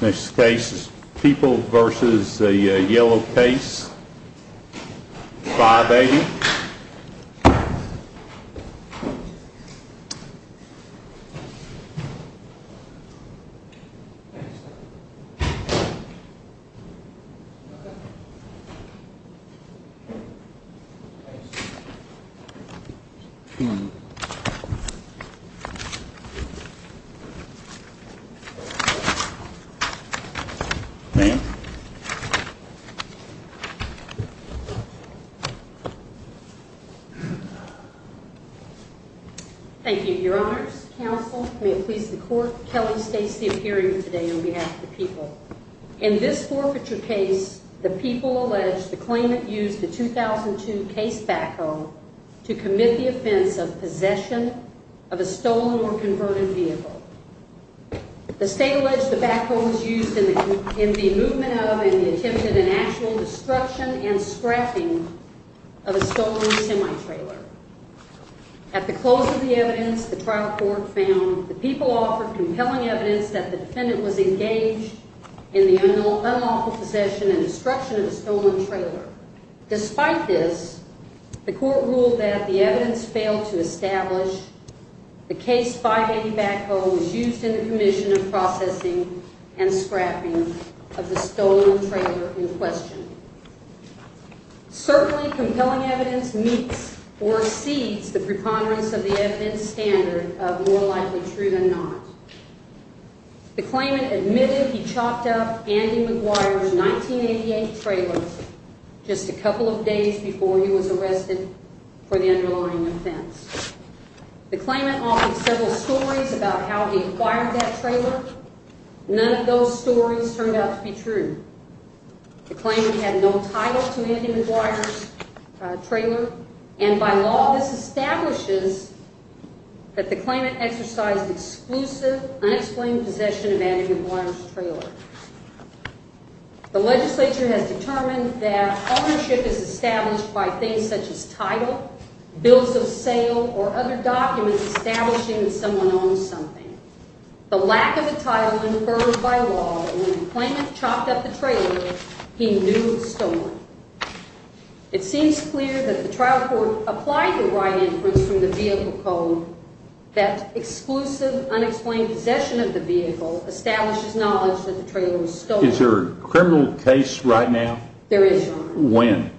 This case is People v. Yellow Case 580 Kelly states the appearance today on behalf of the people. In this forfeiture case, the people allege the claimant used the 2002 case backhoe to commit the offense of possession of a stolen or converted vehicle. The state alleged the backhoe was used in the movement of and the attempted and actual destruction and scrapping of a stolen semi-trailer. At the close of the evidence, the trial court found the people offered compelling evidence that the defendant was engaged in the unlawful possession and destruction of a stolen trailer. Despite this, the court ruled that the evidence failed to establish the case 580 backhoe was used in the commission of processing and scrapping of the stolen trailer in question. Certainly, compelling evidence meets or exceeds the preponderance of the evidence standard of more likely true than not. The claimant admitted he chopped up Andy McGuire's 1988 trailer just a couple of days before he was arrested for the underlying offense. The claimant offered several stories about how he acquired that trailer. None of those stories turned out to be true. The claimant had no title to Andy McGuire's trailer and by law this establishes that the claimant exercised exclusive unexplained possession of Andy McGuire's trailer. The legislature has determined that ownership is established by things such as title, bills of sale, or other documents establishing that someone owns something. The lack of a title incurred by law and when the claimant chopped up the trailer, he knew it was stolen. It seems clear that the trial court applied the right inference from the vehicle code that exclusive unexplained possession of the vehicle establishes knowledge that the trailer was stolen. Is there a criminal case right now? There is. When?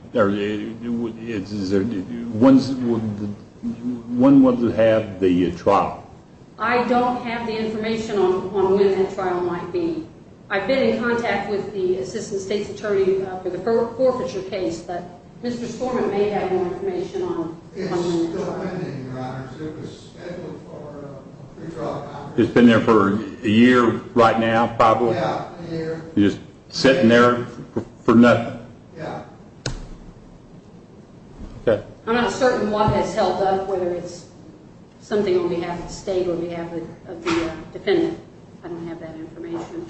When would it have the trial? I don't have the information on when that trial might be. I've been in contact with the assistant state's attorney for the forfeiture case but Mr. Stormont may have more information. It's been there for a year right now probably? Yeah, a year. You're just sitting there for nothing? Yeah. Okay. I'm not certain what has held up whether it's something on behalf of the state or of the defendant. I don't have that information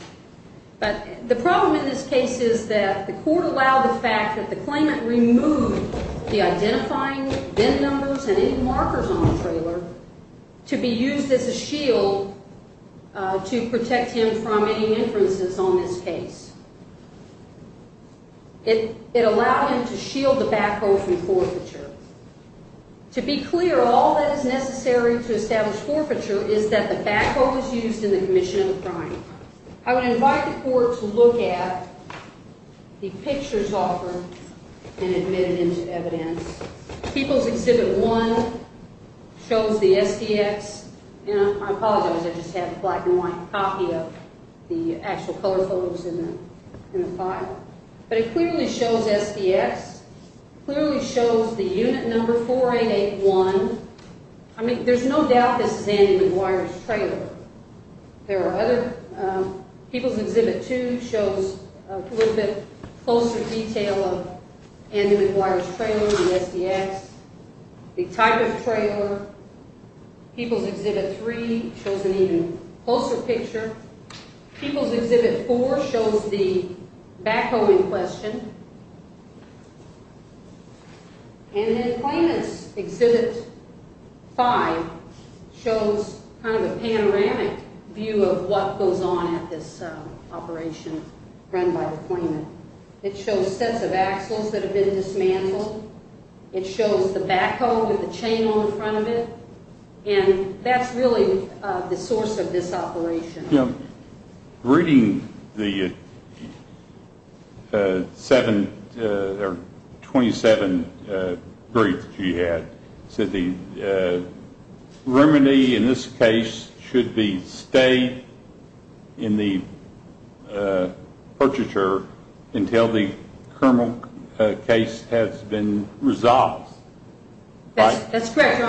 but the problem in this case is that the court allowed the fact that the claimant removed the identifying VIN numbers and any markers on the trailer to be used as a shield to protect him from any inferences on this case. It allowed him to shield the backhoe from forfeiture. To be clear, all that is necessary to establish forfeiture is that the backhoe was used in the commission of the crime. I would invite the court to look at the pictures offered and admit it into evidence. People's Exhibit 1 shows the SDX and I apologize I just have a black and white copy of the actual color photos in the file but it clearly shows SDX, clearly shows the unit number 4881. I mean there's no doubt this is Andy McGuire's trailer. People's Exhibit 2 shows a little bit closer detail of Andy McGuire's trailer, the SDX, the type of trailer. People's Exhibit 3 shows an even closer picture. People's Exhibit 4 shows the backhoe in question and then Claimant's Exhibit 5 shows kind of a panoramic view of what goes on at this operation run by the claimant. It shows sets of axles that have been dismantled. It shows the backhoe with the chain on the front of it and that's really the source of this error. Twenty-seven briefs she had said the remedy in this case should be stayed in the purchaser until the criminal case has been resolved. That's correct.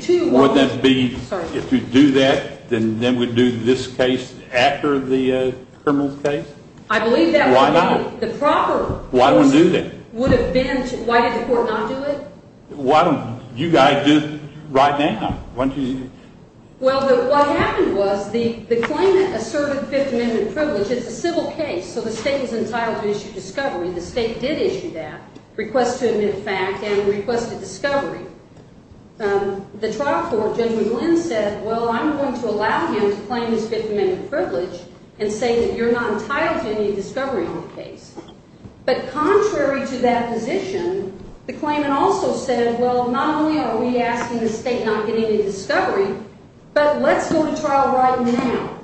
If you do that then we do this case after the criminal case? I believe that. Why not? The proper... Why don't we do that? Why did the court not do it? Why don't you guys do it right now? Well what happened was the claimant asserted fifth amendment privilege. It's a civil case so the state is entitled to issue discovery. The state did issue that request to admit the fact and requested discovery. The trial court, Judge McGlynn said well I'm going to allow him to claim his fifth amendment privilege and say that you're not entitled to any discovery on the case. But contrary to that position the claimant also said well not only are we asking the state not getting any discovery but let's go to trial right now.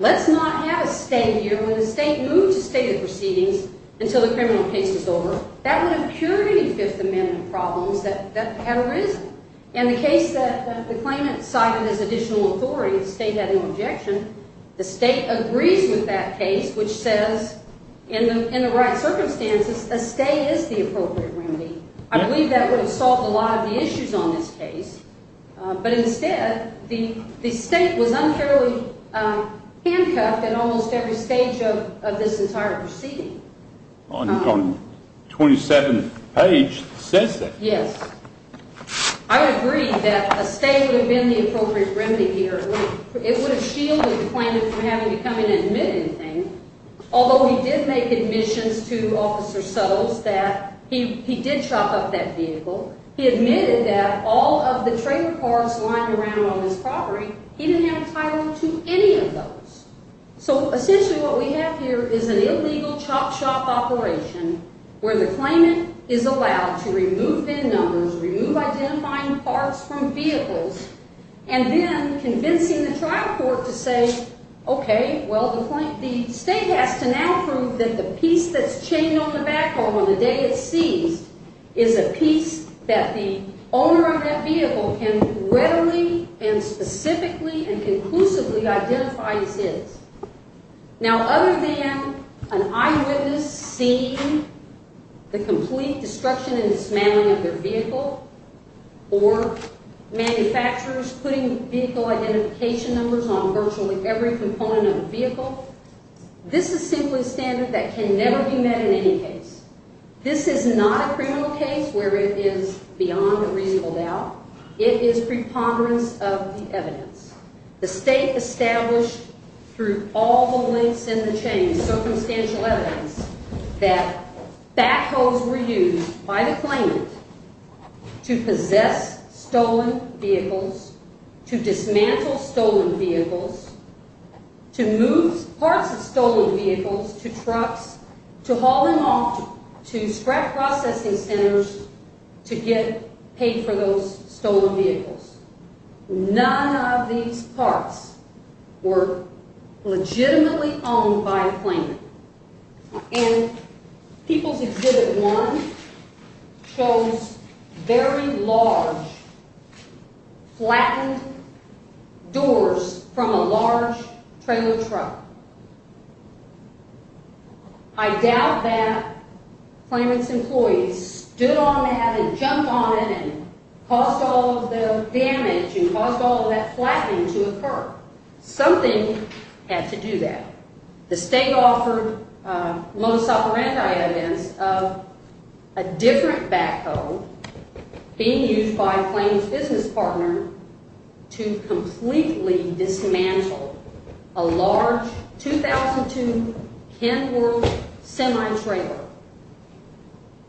Let's not have a stay here. When the state moved to state of proceedings until the criminal case was over that would have cured any fifth amendment problems that had arisen. In the case that the claimant cited as additional authority, the state having objection, the state agrees with that case which says in the right circumstances a stay is the appropriate remedy. I believe that would have solved a lot of the issues on this case but instead the state was unfairly handcuffed at almost every stage of this entire proceeding. On 27 page it says that. Yes. I agree that a stay would have been the appropriate remedy here. It would have shielded the claimant from having to come in and admit anything. Although he did make admissions to Officer Suttles that he did chop up that vehicle. He admitted that all of the trailer parts lying around on his property he didn't have a title to any of those. So essentially what we have here is an illegal chop shop operation where the claimant is allowed to remove VIN numbers, remove identifying parts from vehicles and then convincing the trial court to say okay well the state has to now prove that the piece that's chained on the backhoe on the day it's seized is a piece that the owner of that vehicle can readily and specifically and conclusively identify as his. Now other than an eyewitness seeing the complete destruction and dismantling of their vehicle or manufacturers putting vehicle identification numbers on virtually every component of the vehicle this is simply standard that can never be met in any case. This is not a criminal case where it is beyond a reasonable doubt. It is preponderance of the state established through all the links in the chain, circumstantial evidence that backhoes were used by the claimant to possess stolen vehicles, to dismantle stolen vehicles, to move parts of stolen vehicles to trucks, to haul them off to scrap processing centers to get paid for those were legitimately owned by the claimant and people's exhibit one shows very large flattened doors from a large trailer truck. I doubt that claimant's employees stood on that and jumped on it and caused all of the damage and caused all of that flattening to occur. Something had to do that. The state offered most sophore anti-events of a different backhoe being used by a claimant's business partner to completely dismantle a large 2002 Kenworth semi-trailer.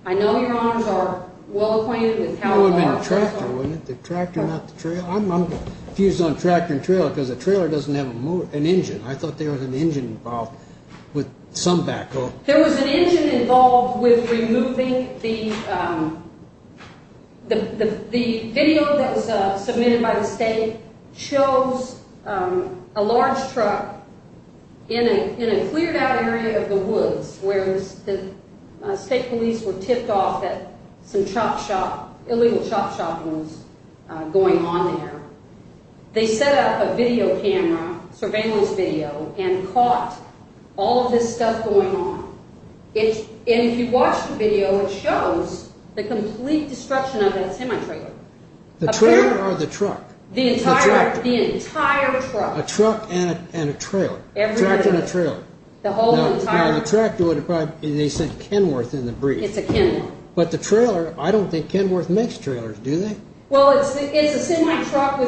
I know your honors are well acquainted with how large that truck was. It would have been a tractor, wouldn't it? The tractor, not the trailer. I'm confused on tractor and trailer because the trailer doesn't have an engine. I thought there was an engine involved with some backhoe. There was an engine involved with removing the video that was submitted by the state shows a large truck in a cleared out area of the woods where state police were tipped off that some illegal chop shopping was going on there. They set up a surveillance video and caught all of this stuff going on. If you watch the video, it shows the complete destruction of that semi-trailer. The trailer or the truck? The entire truck. A truck and a trailer. Tractor and a trailer. The tractor, they said Kenworth in the brief. But the trailer, I don't think Kenworth makes trailers, do they? Well, it's a semi-truck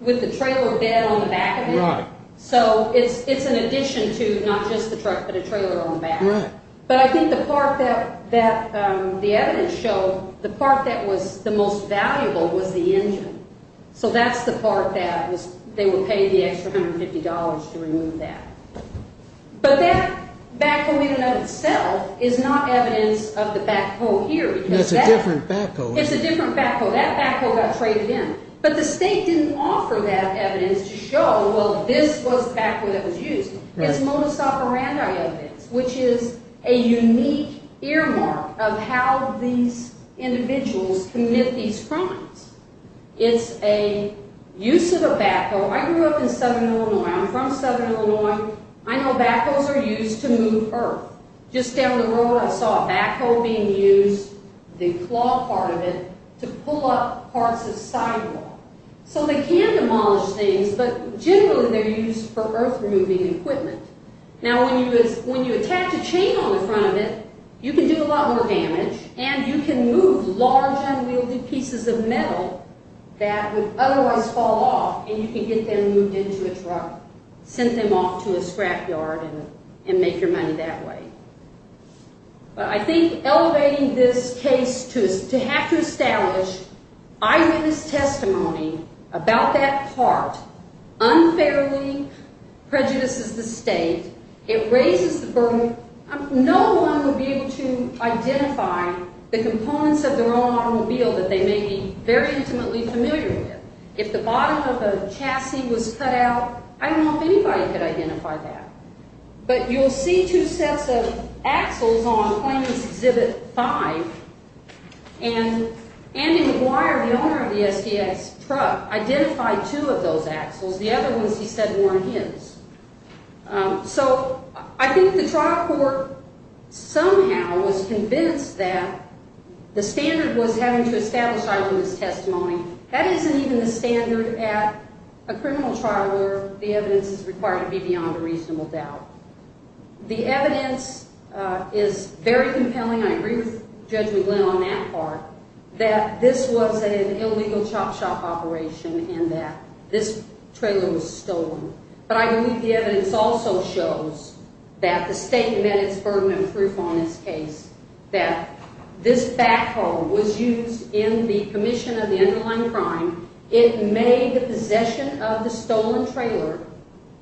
with the trailer bed on the back of it. So it's an addition to not just the truck, but a trailer on the back. But I think the part that the evidence showed, the part that was the most valuable was the engine. So that's the part that they would pay the extra $150 to remove that. But that backhoe in and of itself is not evidence of the backhoe here. That's a different backhoe. It's a different backhoe. That backhoe got traded in. But the state didn't offer that evidence to show, well, this was the backhoe that was used. It's modus operandi evidence, which is a unique earmark of how these individuals commit these things. It's a use of a backhoe. I grew up in southern Illinois. I'm from southern Illinois. I know backhoes are used to move earth. Just down the road, I saw a backhoe being used, the claw part of it, to pull up parts of sidewalk. So they can demolish things, but generally they're used for earth removing equipment. Now, when you attach a chain on the front of it, you can do a lot more damage. And you can move large, unwieldy pieces of metal that would otherwise fall off, and you can get them moved into a truck, send them off to a scrapyard, and make your money that way. But I think elevating this case to have to establish eyewitness testimony about that part unfairly prejudices the state. It raises the burden. No one would be able to identify the components of their own automobile that they may be very intimately familiar with. If the bottom of a chassis was cut out, I don't know if anybody could identify that. But you'll see two sets of axles on Claimant's Exhibit 5, and Andy McGuire, the owner of the SDS truck, identified two of those axles. The other ones he said weren't his. So I think the trial court somehow was convinced that the standard was having to establish eyewitness testimony. That isn't even the standard at a criminal trial where the evidence is required to be beyond a reasonable doubt. The evidence is very compelling. I agree with Judge McGlynn on that part, that this was an illegal chop shop operation, and that this trailer was stolen. But I believe the evidence also shows that the state met its burden of proof on this case, that this backhoe was used in the commission of the underlying crime. It made the possession of the stolen trailer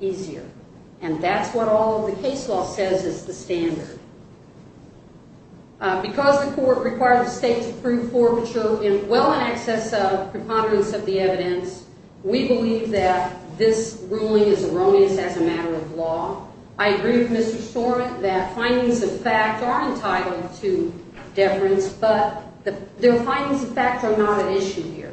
easier. And that's what all of the case law says is the standard. Because the court required the state to prove forfeiture in well in excess of preponderance of the evidence, we believe that this ruling is erroneous as a matter of law. I agree with Mr. Stormant that findings of fact are entitled to deference, but their findings of fact are not at issue here.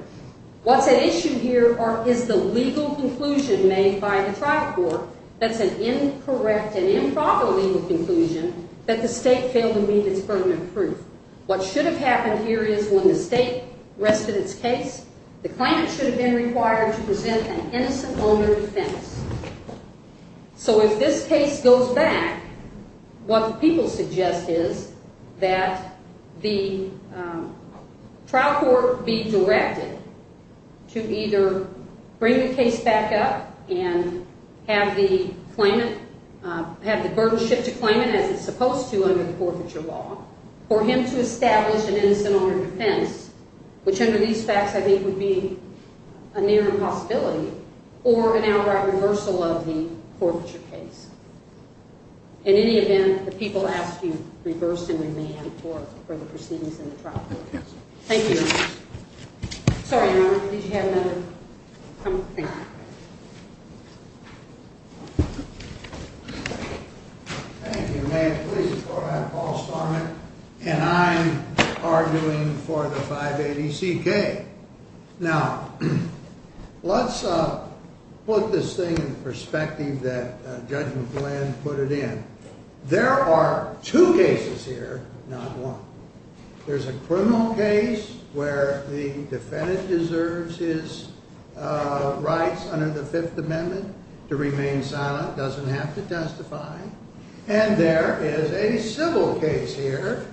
What's at issue here is the legal conclusion made by the trial court that's an incorrect and improper legal conclusion that the state failed to meet its burden of proof. What should have happened here is when the state rested its case, the claimant should have been required to present an innocent owner defense. So if this case goes back, what the people suggest is that the trial court be directed to either bring the case back up and have the burden shift to claimant as it's supposed to under the forfeiture law, or him to establish an innocent owner defense, which under these facts I think would be a near impossibility, or an outright reversal of the forfeiture case. In any event, the people ask you reverse and remand for the proceedings in the trial court. Thank you. Sorry, Your Honor, did you have another comment? Thank you. Thank you, may it please the court, I'm Paul Starman, and I'm arguing for the 580CK. Now, let's put this thing in perspective that Judge McGlynn put it in. There are two cases here, not one. There's a criminal case where the defendant deserves his rights under the Fifth Amendment to remain silent, doesn't have to testify. And there is a civil case here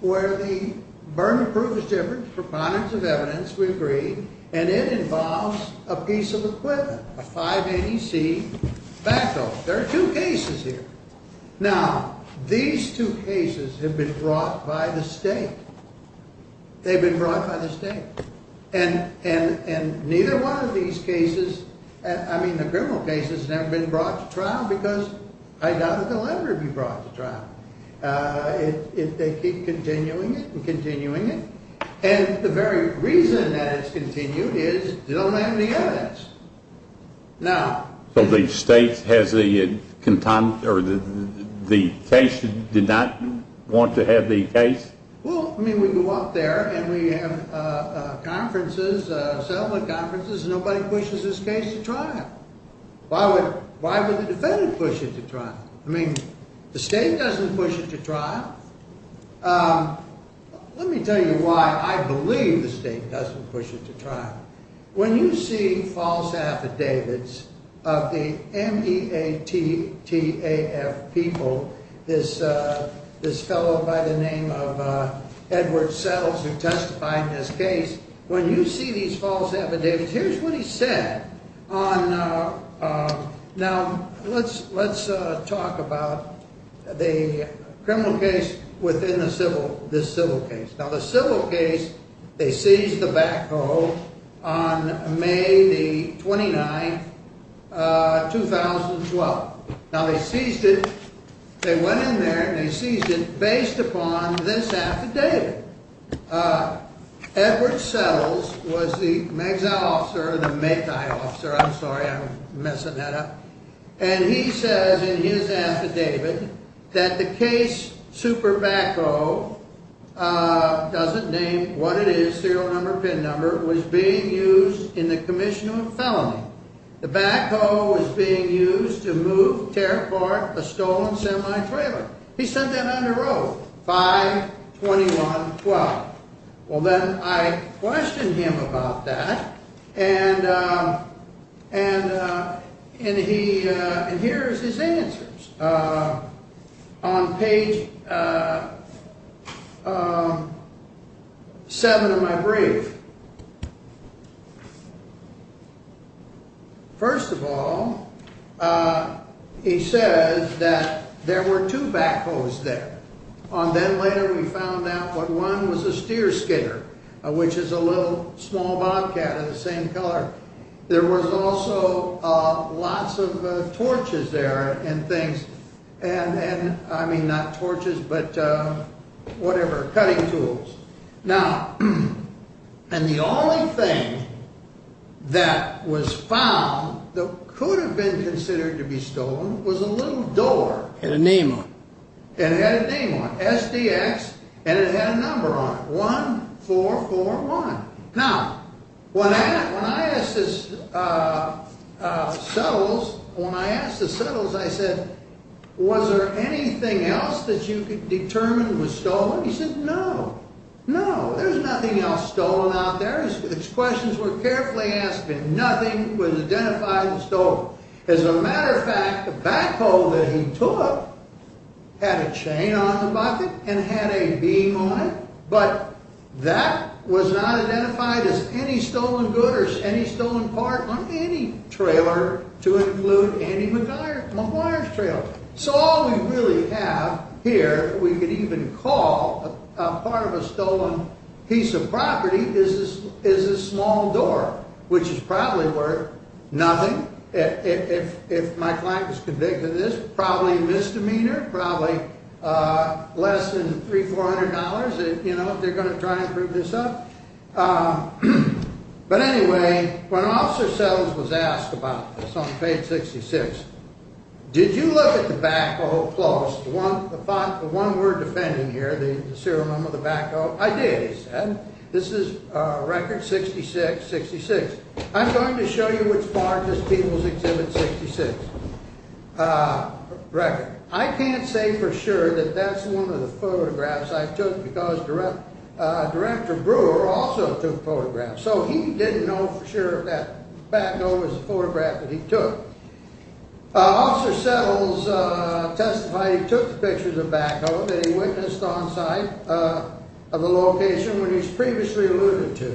where the burden of proof is different, preponderance of evidence, we agree, and it involves a piece of equipment, a 580C backhoe. There are two cases here. Now, these two cases have been brought by the state. They've been brought by the state. And neither one of these cases, I mean the criminal case has never been brought to trial because I doubt that they'll ever be brought to trial. They keep continuing it and continuing it. And the very reason that it's continued is they don't have any evidence. So the state has a contempt, or the case did not want to have the case? Well, I mean, we go out there and we have conferences, settlement conferences, and nobody pushes this case to trial. Why would the defendant push it to trial? I mean, the state doesn't push it to trial. Let me tell you why I believe the state doesn't push it to trial. When you see false affidavits of the M-E-A-T-T-A-F people, this fellow by the name of Edward Settles who testified in this case, when you see these false affidavits, here's what he said. Now, let's talk about the criminal case within this civil case. Now, the civil case, they seized the backhoe on May the 29th, 2012. Now, they seized it. They went in there and they seized it based upon this affidavit. Edward Settles was the exile officer, the METI officer. I'm sorry, I'm messing that up. And he says in his affidavit that the case super backhoe, doesn't name what it is, serial number, pin number, was being used in the commission of a felony. The backhoe was being used to move, tear apart a stolen semi-trailer. He sent that on the road, 5-21-12. Well, then I questioned him about that and here's his answers. On page 7 of my brief, first of all, he says that there were two backhoes there. And then later we found out that one was a steer skidder, which is a little small bobcat of the same color. There was also lots of torches there and things, and I mean not torches, but whatever, cutting tools. Now, and the only thing that was found that could have been considered to be stolen was a little door. Had a name on it. It had a name on it, SDX, and it had a number on it, 1441. Now, when I asked the settles, I said, was there anything else that you could determine was stolen? He said, no, no, there's nothing else stolen out there. His questions were carefully asked, but nothing was identified as stolen. As a matter of fact, the backhoe that he took had a chain on the bucket and had a beam on it, but that was not identified as any stolen good or any stolen part on any trailer to include Andy McGuire's trailer. So, all we really have here, we could even call a part of a stolen piece of property is this small door, which is probably worth nothing. If my client was convicted of this, probably a misdemeanor, probably less than $300, $400, you know, if they're going to try and prove this up. But anyway, when Officer Settles was asked about this on page 66, did you look at the backhoe close, the one we're defending here, the ceremony of the backhoe? I did, he said. This is record 6666. I'm going to show you which part of this People's Exhibit 66 record. I can't say for sure that that's one of the photographs I took because Director Brewer also took photographs, so he didn't know for sure if that backhoe was the photograph that he took. Officer Settles testified he took the pictures of the backhoe that he witnessed on site of the location when he was previously alluded to.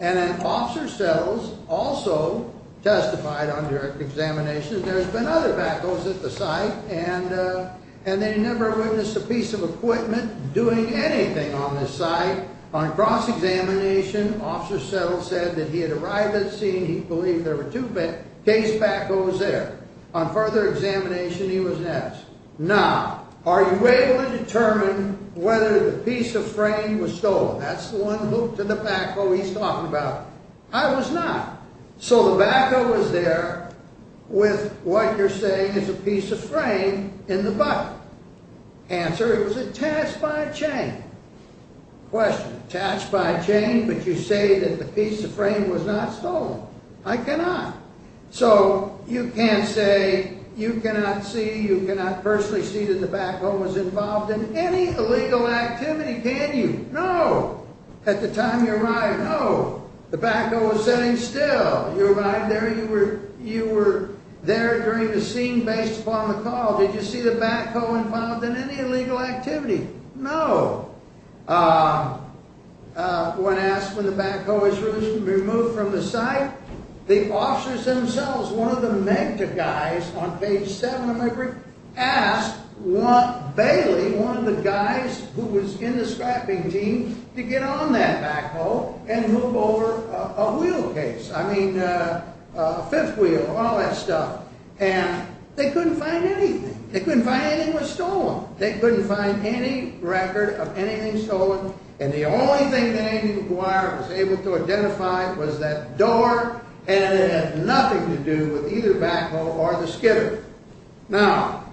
And then Officer Settles also testified on direct examination that there's been other backhoes at the site and they never witnessed a piece of equipment doing anything on this site. On cross-examination, Officer Settles said that he had arrived at the scene, he believed there were two case backhoes there. On further examination, he was next. Now, are you able to determine whether the piece of frame was stolen? That's the one hooked to the backhoe he's talking about. I was not. So the backhoe was there with what you're saying is a piece of frame in the bucket. Answer, it was attached by a chain. Question, attached by a chain, but you say that the piece of frame was not stolen. I cannot. So you can't say you cannot see, you cannot personally see that the backhoe was involved in any illegal activity, can you? No. At the time you arrived? No. The backhoe was sitting still. You arrived there, you were there during the scene based upon the call. Did you see the backhoe involved in any illegal activity? No. When asked when the backhoe was removed from the site, the officers themselves, one of the MEGTA guys on page 7 of my brief, asked Bailey, one of the guys who was in the scrapping team, to get on that backhoe and move over a wheel case. I mean, a fifth wheel, all that stuff. And they couldn't find anything. They couldn't find anything was stolen. They couldn't find any record of anything stolen. And the only thing that Andy McGuire was able to identify was that door, and it had nothing to do with either backhoe or the skidder. Now,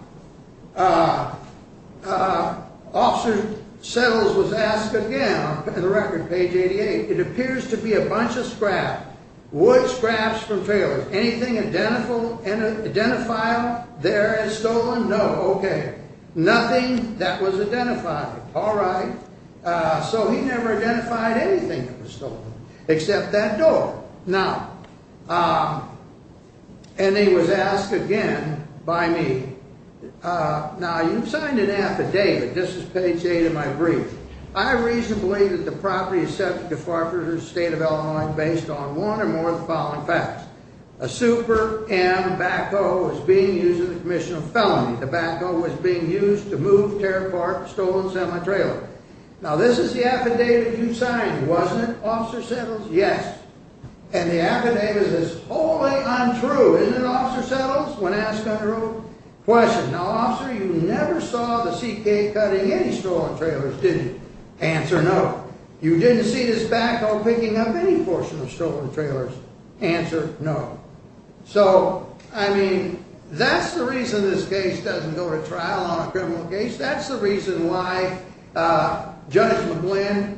Officer Settles was asked again on the record, page 88, it appears to be a bunch of scrap, wood scraps from trailers. Anything identifiable there as stolen? No. Okay. Nothing that was identifiable. All right. So he never identified anything that was stolen, except that door. Now, and he was asked again by me. Now, you've signed an affidavit. This is page 8 of my brief. I reasonably believe that the property is subject to Department of State of Illinois based on one or more of the following facts. A Super M backhoe was being used in the commission of felony. The backhoe was being used to move, tear apart, stolen semi-trailer. Now, this is the affidavit you signed, wasn't it, Officer Settles? Yes. And the affidavit is wholly untrue. Isn't it, Officer Settles, when asked under oath? Question. Now, Officer, you never saw the CK cutting any stolen trailers, did you? Answer, no. You didn't see this backhoe picking up any portion of stolen trailers? Answer, no. So, I mean, that's the reason this case doesn't go to trial on a criminal case. That's the reason why Judge McGlynn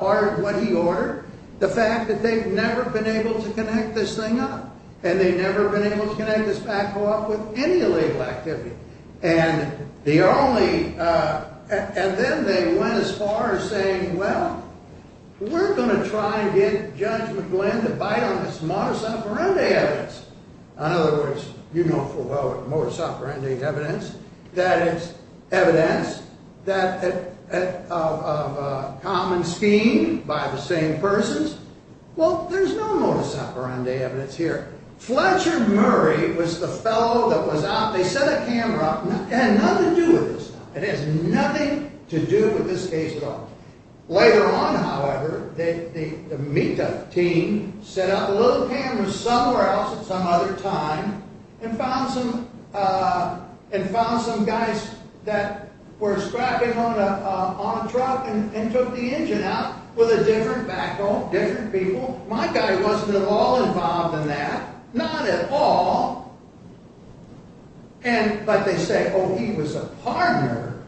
ordered what he ordered, the fact that they've never been able to connect this thing up, and they've never been able to connect this backhoe up with any illegal activity. And then they went as far as saying, well, we're going to try and get Judge McGlynn to bite on this modus operandi evidence. In other words, you know full well what modus operandi evidence. That is, evidence of a common scheme by the same persons. Well, there's no modus operandi evidence here. Fletcher Murray was the fellow that was out. They set a camera up. It had nothing to do with this. It has nothing to do with this case at all. Later on, however, the META team set up a little camera somewhere else at some other time and found some guys that were strapping on a truck and took the engine out with a different backhoe, different people. My guy wasn't at all involved in that. Not at all. But they say, oh, he was a partner.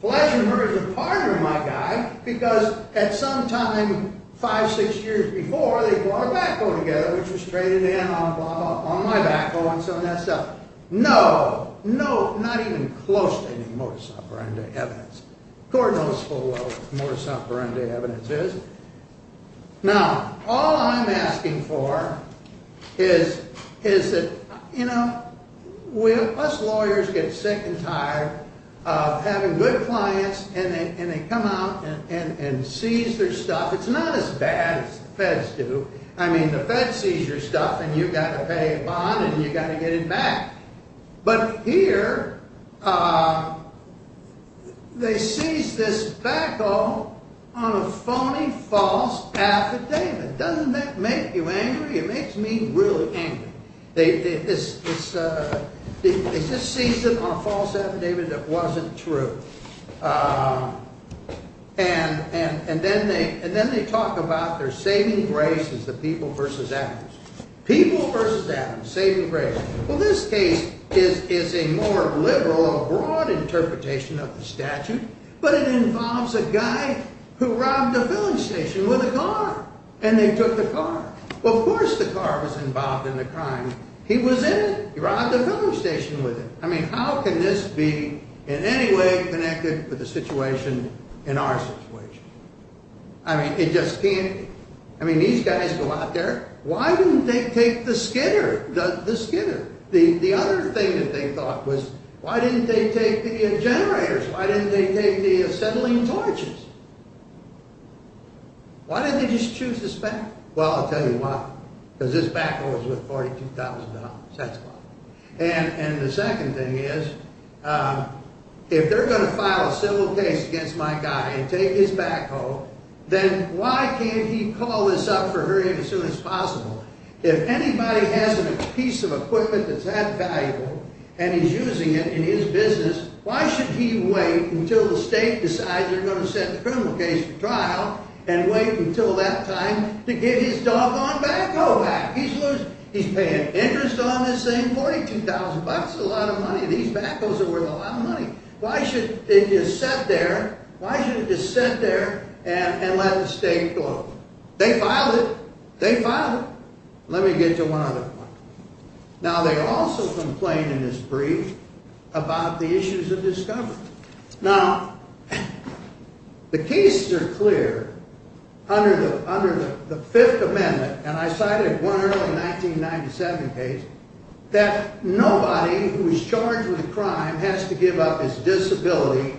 Fletcher Murray's a partner, my guy, because at some time five, six years before, they brought a backhoe together, which was traded in on my backhoe, and so on that stuff. No, no, not even close to any modus operandi evidence. Cordial is full well what modus operandi evidence is. Now, all I'm asking for is that, you know, us lawyers get sick and tired of having good clients, and they come out and seize their stuff. It's not as bad as the feds do. I mean, the feds seize your stuff, and you've got to pay a bond, and you've got to get it back. But here, they seized this backhoe on a phony false affidavit. Doesn't that make you angry? It makes me really angry. They just seized it on a false affidavit that wasn't true. And then they talk about their saving grace as the people versus atoms. People versus atoms, saving grace. Well, this case is a more liberal or broad interpretation of the statute, but it involves a guy who robbed a filling station with a car, and they took the car. Well, of course the car was involved in the crime. He was in it. He robbed a filling station with it. How can this be in any way connected with the situation in our situation? I mean, it just can't be. I mean, these guys go out there. Why didn't they take the skidder? The other thing that they thought was, why didn't they take the generators? Why didn't they take the settling torches? Why didn't they just choose this backhoe? Well, I'll tell you why. Because this backhoe was worth $42,000. That's why. And the second thing is, if they're going to file a civil case against my guy and take his backhoe, then why can't he call this up for her as soon as possible? If anybody has a piece of equipment that's that valuable, and he's using it in his business, why should he wait until the state decides they're going to set the criminal case for trial and wait until that time to get his doggone backhoe back? He's paying interest on this thing. $42,000 is a lot of money. These backhoes are worth a lot of money. Why should they just sit there? Why should they just sit there and let the state go? They filed it. They filed it. Let me get to one other point. Now, they also complained in his brief about the issues of discovery. Now, the cases are clear under the Fifth Amendment, and I cited one early 1997 case, that nobody who is charged with a crime has to give up his disability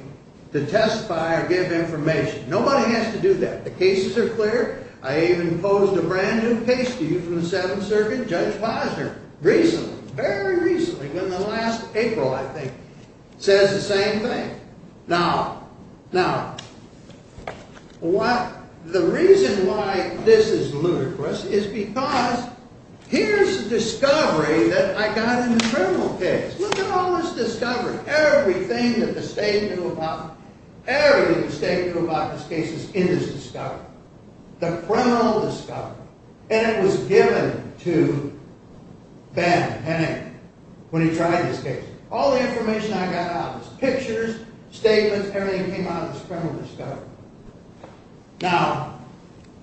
to testify or give information. Nobody has to do that. The cases are clear. I even posed a brand new case to you from the Seventh Circuit, Judge Posner, recently, very recently, in the last April, I think, says the same thing. Now, the reason why this is ludicrous, is because here's the discovery that I got in the criminal case. Look at all this discovery. Everything that the state knew about, everything the state knew about this case is in this discovery. The criminal discovery. And it was given to Ben Hennig, when he tried this case. All the information I got out was pictures, statements, everything came out of this criminal discovery. Now,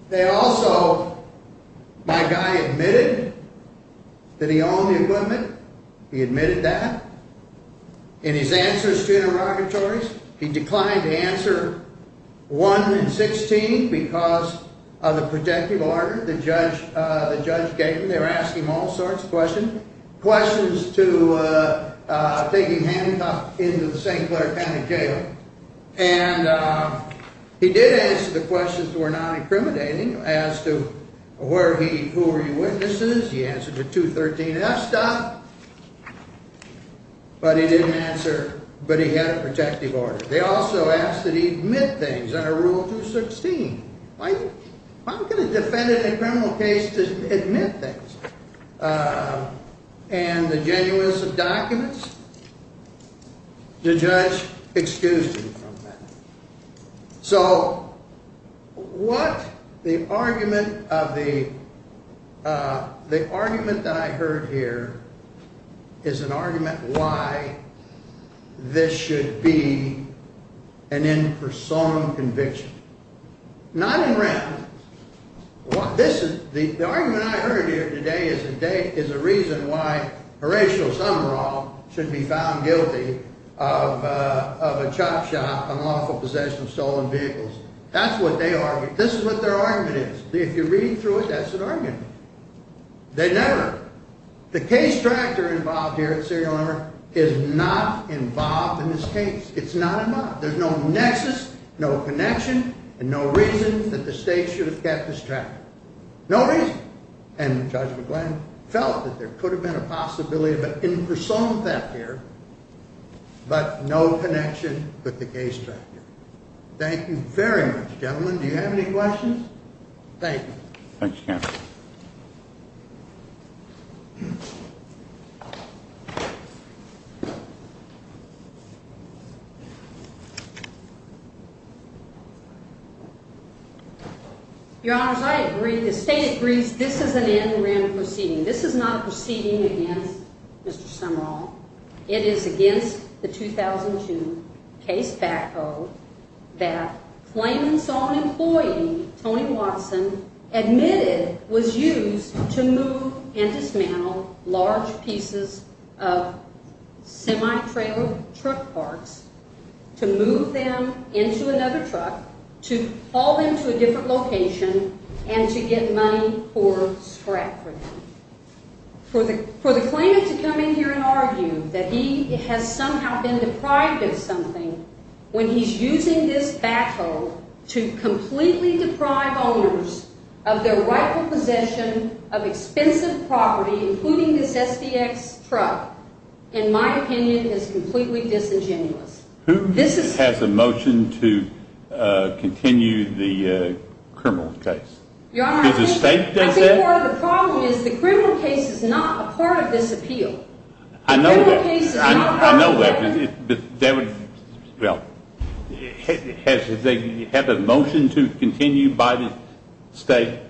they also, my guy admitted that he owned the equipment. He admitted that. In his answers to interrogatories, he declined to answer 1 and 16, because of the protective order the judge gave him. They were asking him all sorts of questions, questions to taking handcuffs into the St. Clair County Jail. And he did answer the questions that were not incriminating, as to where he, who were your witnesses. He answered the 213 F stop. But he didn't answer, but he had a protective order. They also asked that he admit things under Rule 216. How can a defendant in a criminal case admit things? And the genuineness of documents, the judge excused him from that. So, what the argument of the, the argument that I heard here, is an argument why this should be an in-person conviction. Not in rent. The argument I heard here today is a reason why Horatio Summerall should be found guilty of a chop shop, an awful possession of stolen vehicles. That's what they argue. This is what their argument is. If you read through it, that's an argument. They never, the case tractor involved here at Serial Number is not involved in this case. It's not involved. There's no nexus, no connection, and no reason that the state should have kept this tractor. No reason. And Judge McGlynn felt that there could have been a possibility, but in-person theft here, but no connection with the case tractor. Thank you very much, gentlemen. Do you have any questions? Thank you. Thanks, counsel. Your honors, I agree. The state agrees this is an interim proceeding. This is not a proceeding against Mr. Summerall. It is against the 2002 case back code that claimant's own employee, Tony Watson, admitted was used to move and dismantle large pieces of semi-trailer truck parts to move them into another truck, to haul them to a different location, and to get money for scrap for them. For the claimant to come in here and argue that he has somehow been deprived of something when he's using this backhoe to completely deprive owners of their rightful possession of expensive property, including this SBX truck, in my opinion, is completely disingenuous. Who has a motion to continue the criminal case? Your honor, I think part of the problem is the criminal case is not a part of this appeal. I know that. The criminal case is not a part of the appeal. I know that. But that would, well, does they have a motion to continue by the state?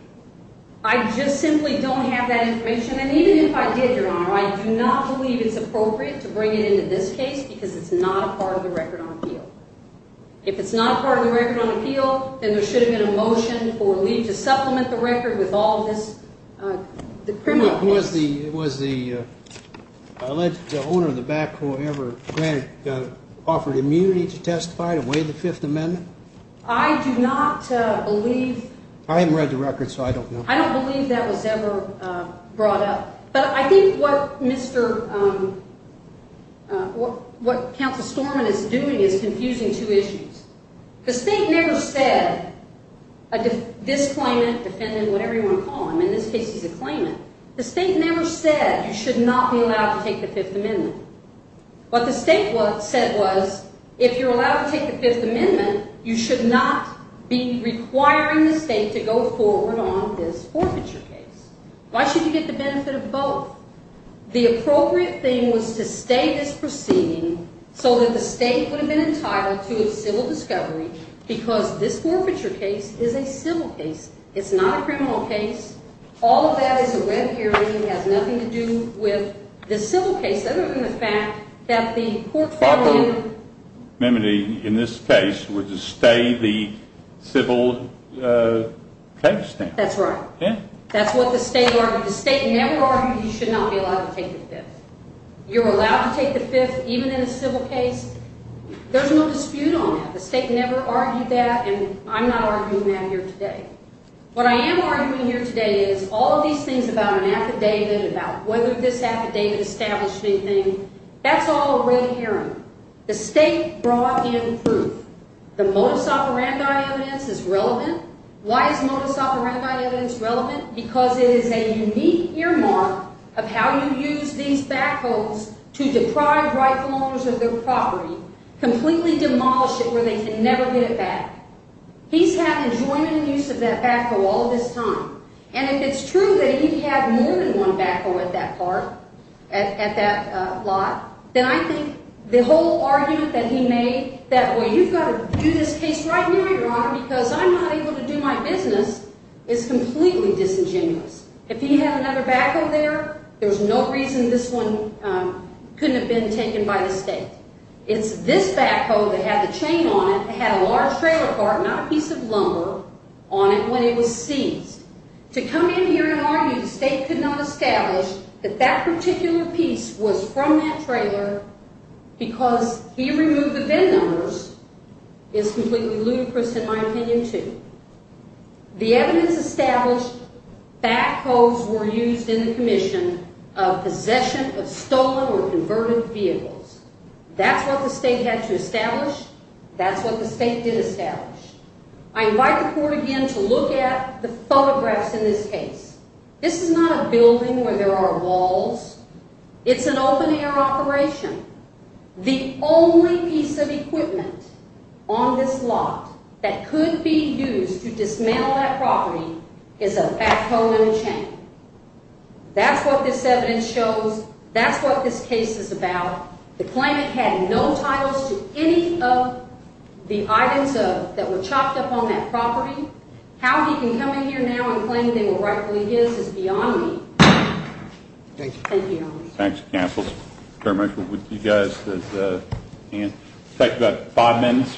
I just simply don't have that information. And even if I did, your honor, I do not believe it's appropriate to bring it into this case because it's not a part of the record on appeal. If it's not a part of the record on appeal, then there should have been a motion or leave to supplement the record with all of this, the criminal case. Was the alleged owner of the backhoe ever granted, offered immunity to testify to waive the Fifth Amendment? I do not believe. I haven't read the record, so I don't know. I don't believe that was ever brought up. But I think what Mr., what counsel Storman is doing is confusing two issues. The state never said, this claimant, defendant, whatever you want to call him. In this case, he's a claimant. The state never said, you should not be allowed to take the Fifth Amendment. What the state said was, if you're allowed to take the Fifth Amendment, you should not be requiring the state to go forward on this forfeiture case. Why should you get the benefit of both? The appropriate thing was to stay this proceeding so that the state would have been entitled to a civil discovery because this forfeiture case is a civil case. It's not a criminal case. All of that is a red herring. It has nothing to do with the civil case, other than the fact that the court found in- Backhoe amenity in this case would just stay the civil case now. That's right. That's what the state argued. The state never argued you should not be allowed to take the Fifth. You're allowed to take the Fifth, even in a civil case. There's no dispute on that. The state never argued that, and I'm not arguing that here today. What I am arguing here today is all of these things about an affidavit, about whether this affidavit established anything, that's all a red herring. The state brought in proof. The modus operandi evidence is relevant. Why is modus operandi evidence relevant? Because it is a unique earmark of how you use these backhoes to deprive rightful owners of their property, completely demolish it where they can never get it back. He's had enjoyment and use of that backhoe all this time, and if it's true that he'd had more than one backhoe at that part, at that lot, then I think the whole argument that he made, that, well, you've got to do this case right now, your honor, because I'm not able to do my business, is completely disingenuous. If he had another backhoe there, there's no reason this one couldn't have been taken by the state. It's this backhoe that had the chain on it that had a large trailer cart, not a piece of lumber, on it when it was seized. To come in here and argue the state could not establish that that particular piece was from that trailer because he removed the VIN numbers is completely ludicrous, in my opinion, too. The evidence established backhoes were used in the commission of possession of stolen or converted vehicles. That's what the state had to establish. That's what the state did establish. I invite the court again to look at the photographs in this case. This is not a building where there are walls. It's an open-air operation. The only piece of equipment on this lot that could be used to dismantle that property is a backhoe and a chain. That's what this evidence shows. That's what this case is about. The claimant had no titles to any of the items that were chopped up on that property. How he can come in here now and claim they were rightfully his is beyond me. Thank you. Thank you, Your Honor. Thanks, counsel. Chairman, I'll leave you guys at the end. We'll take about five minutes.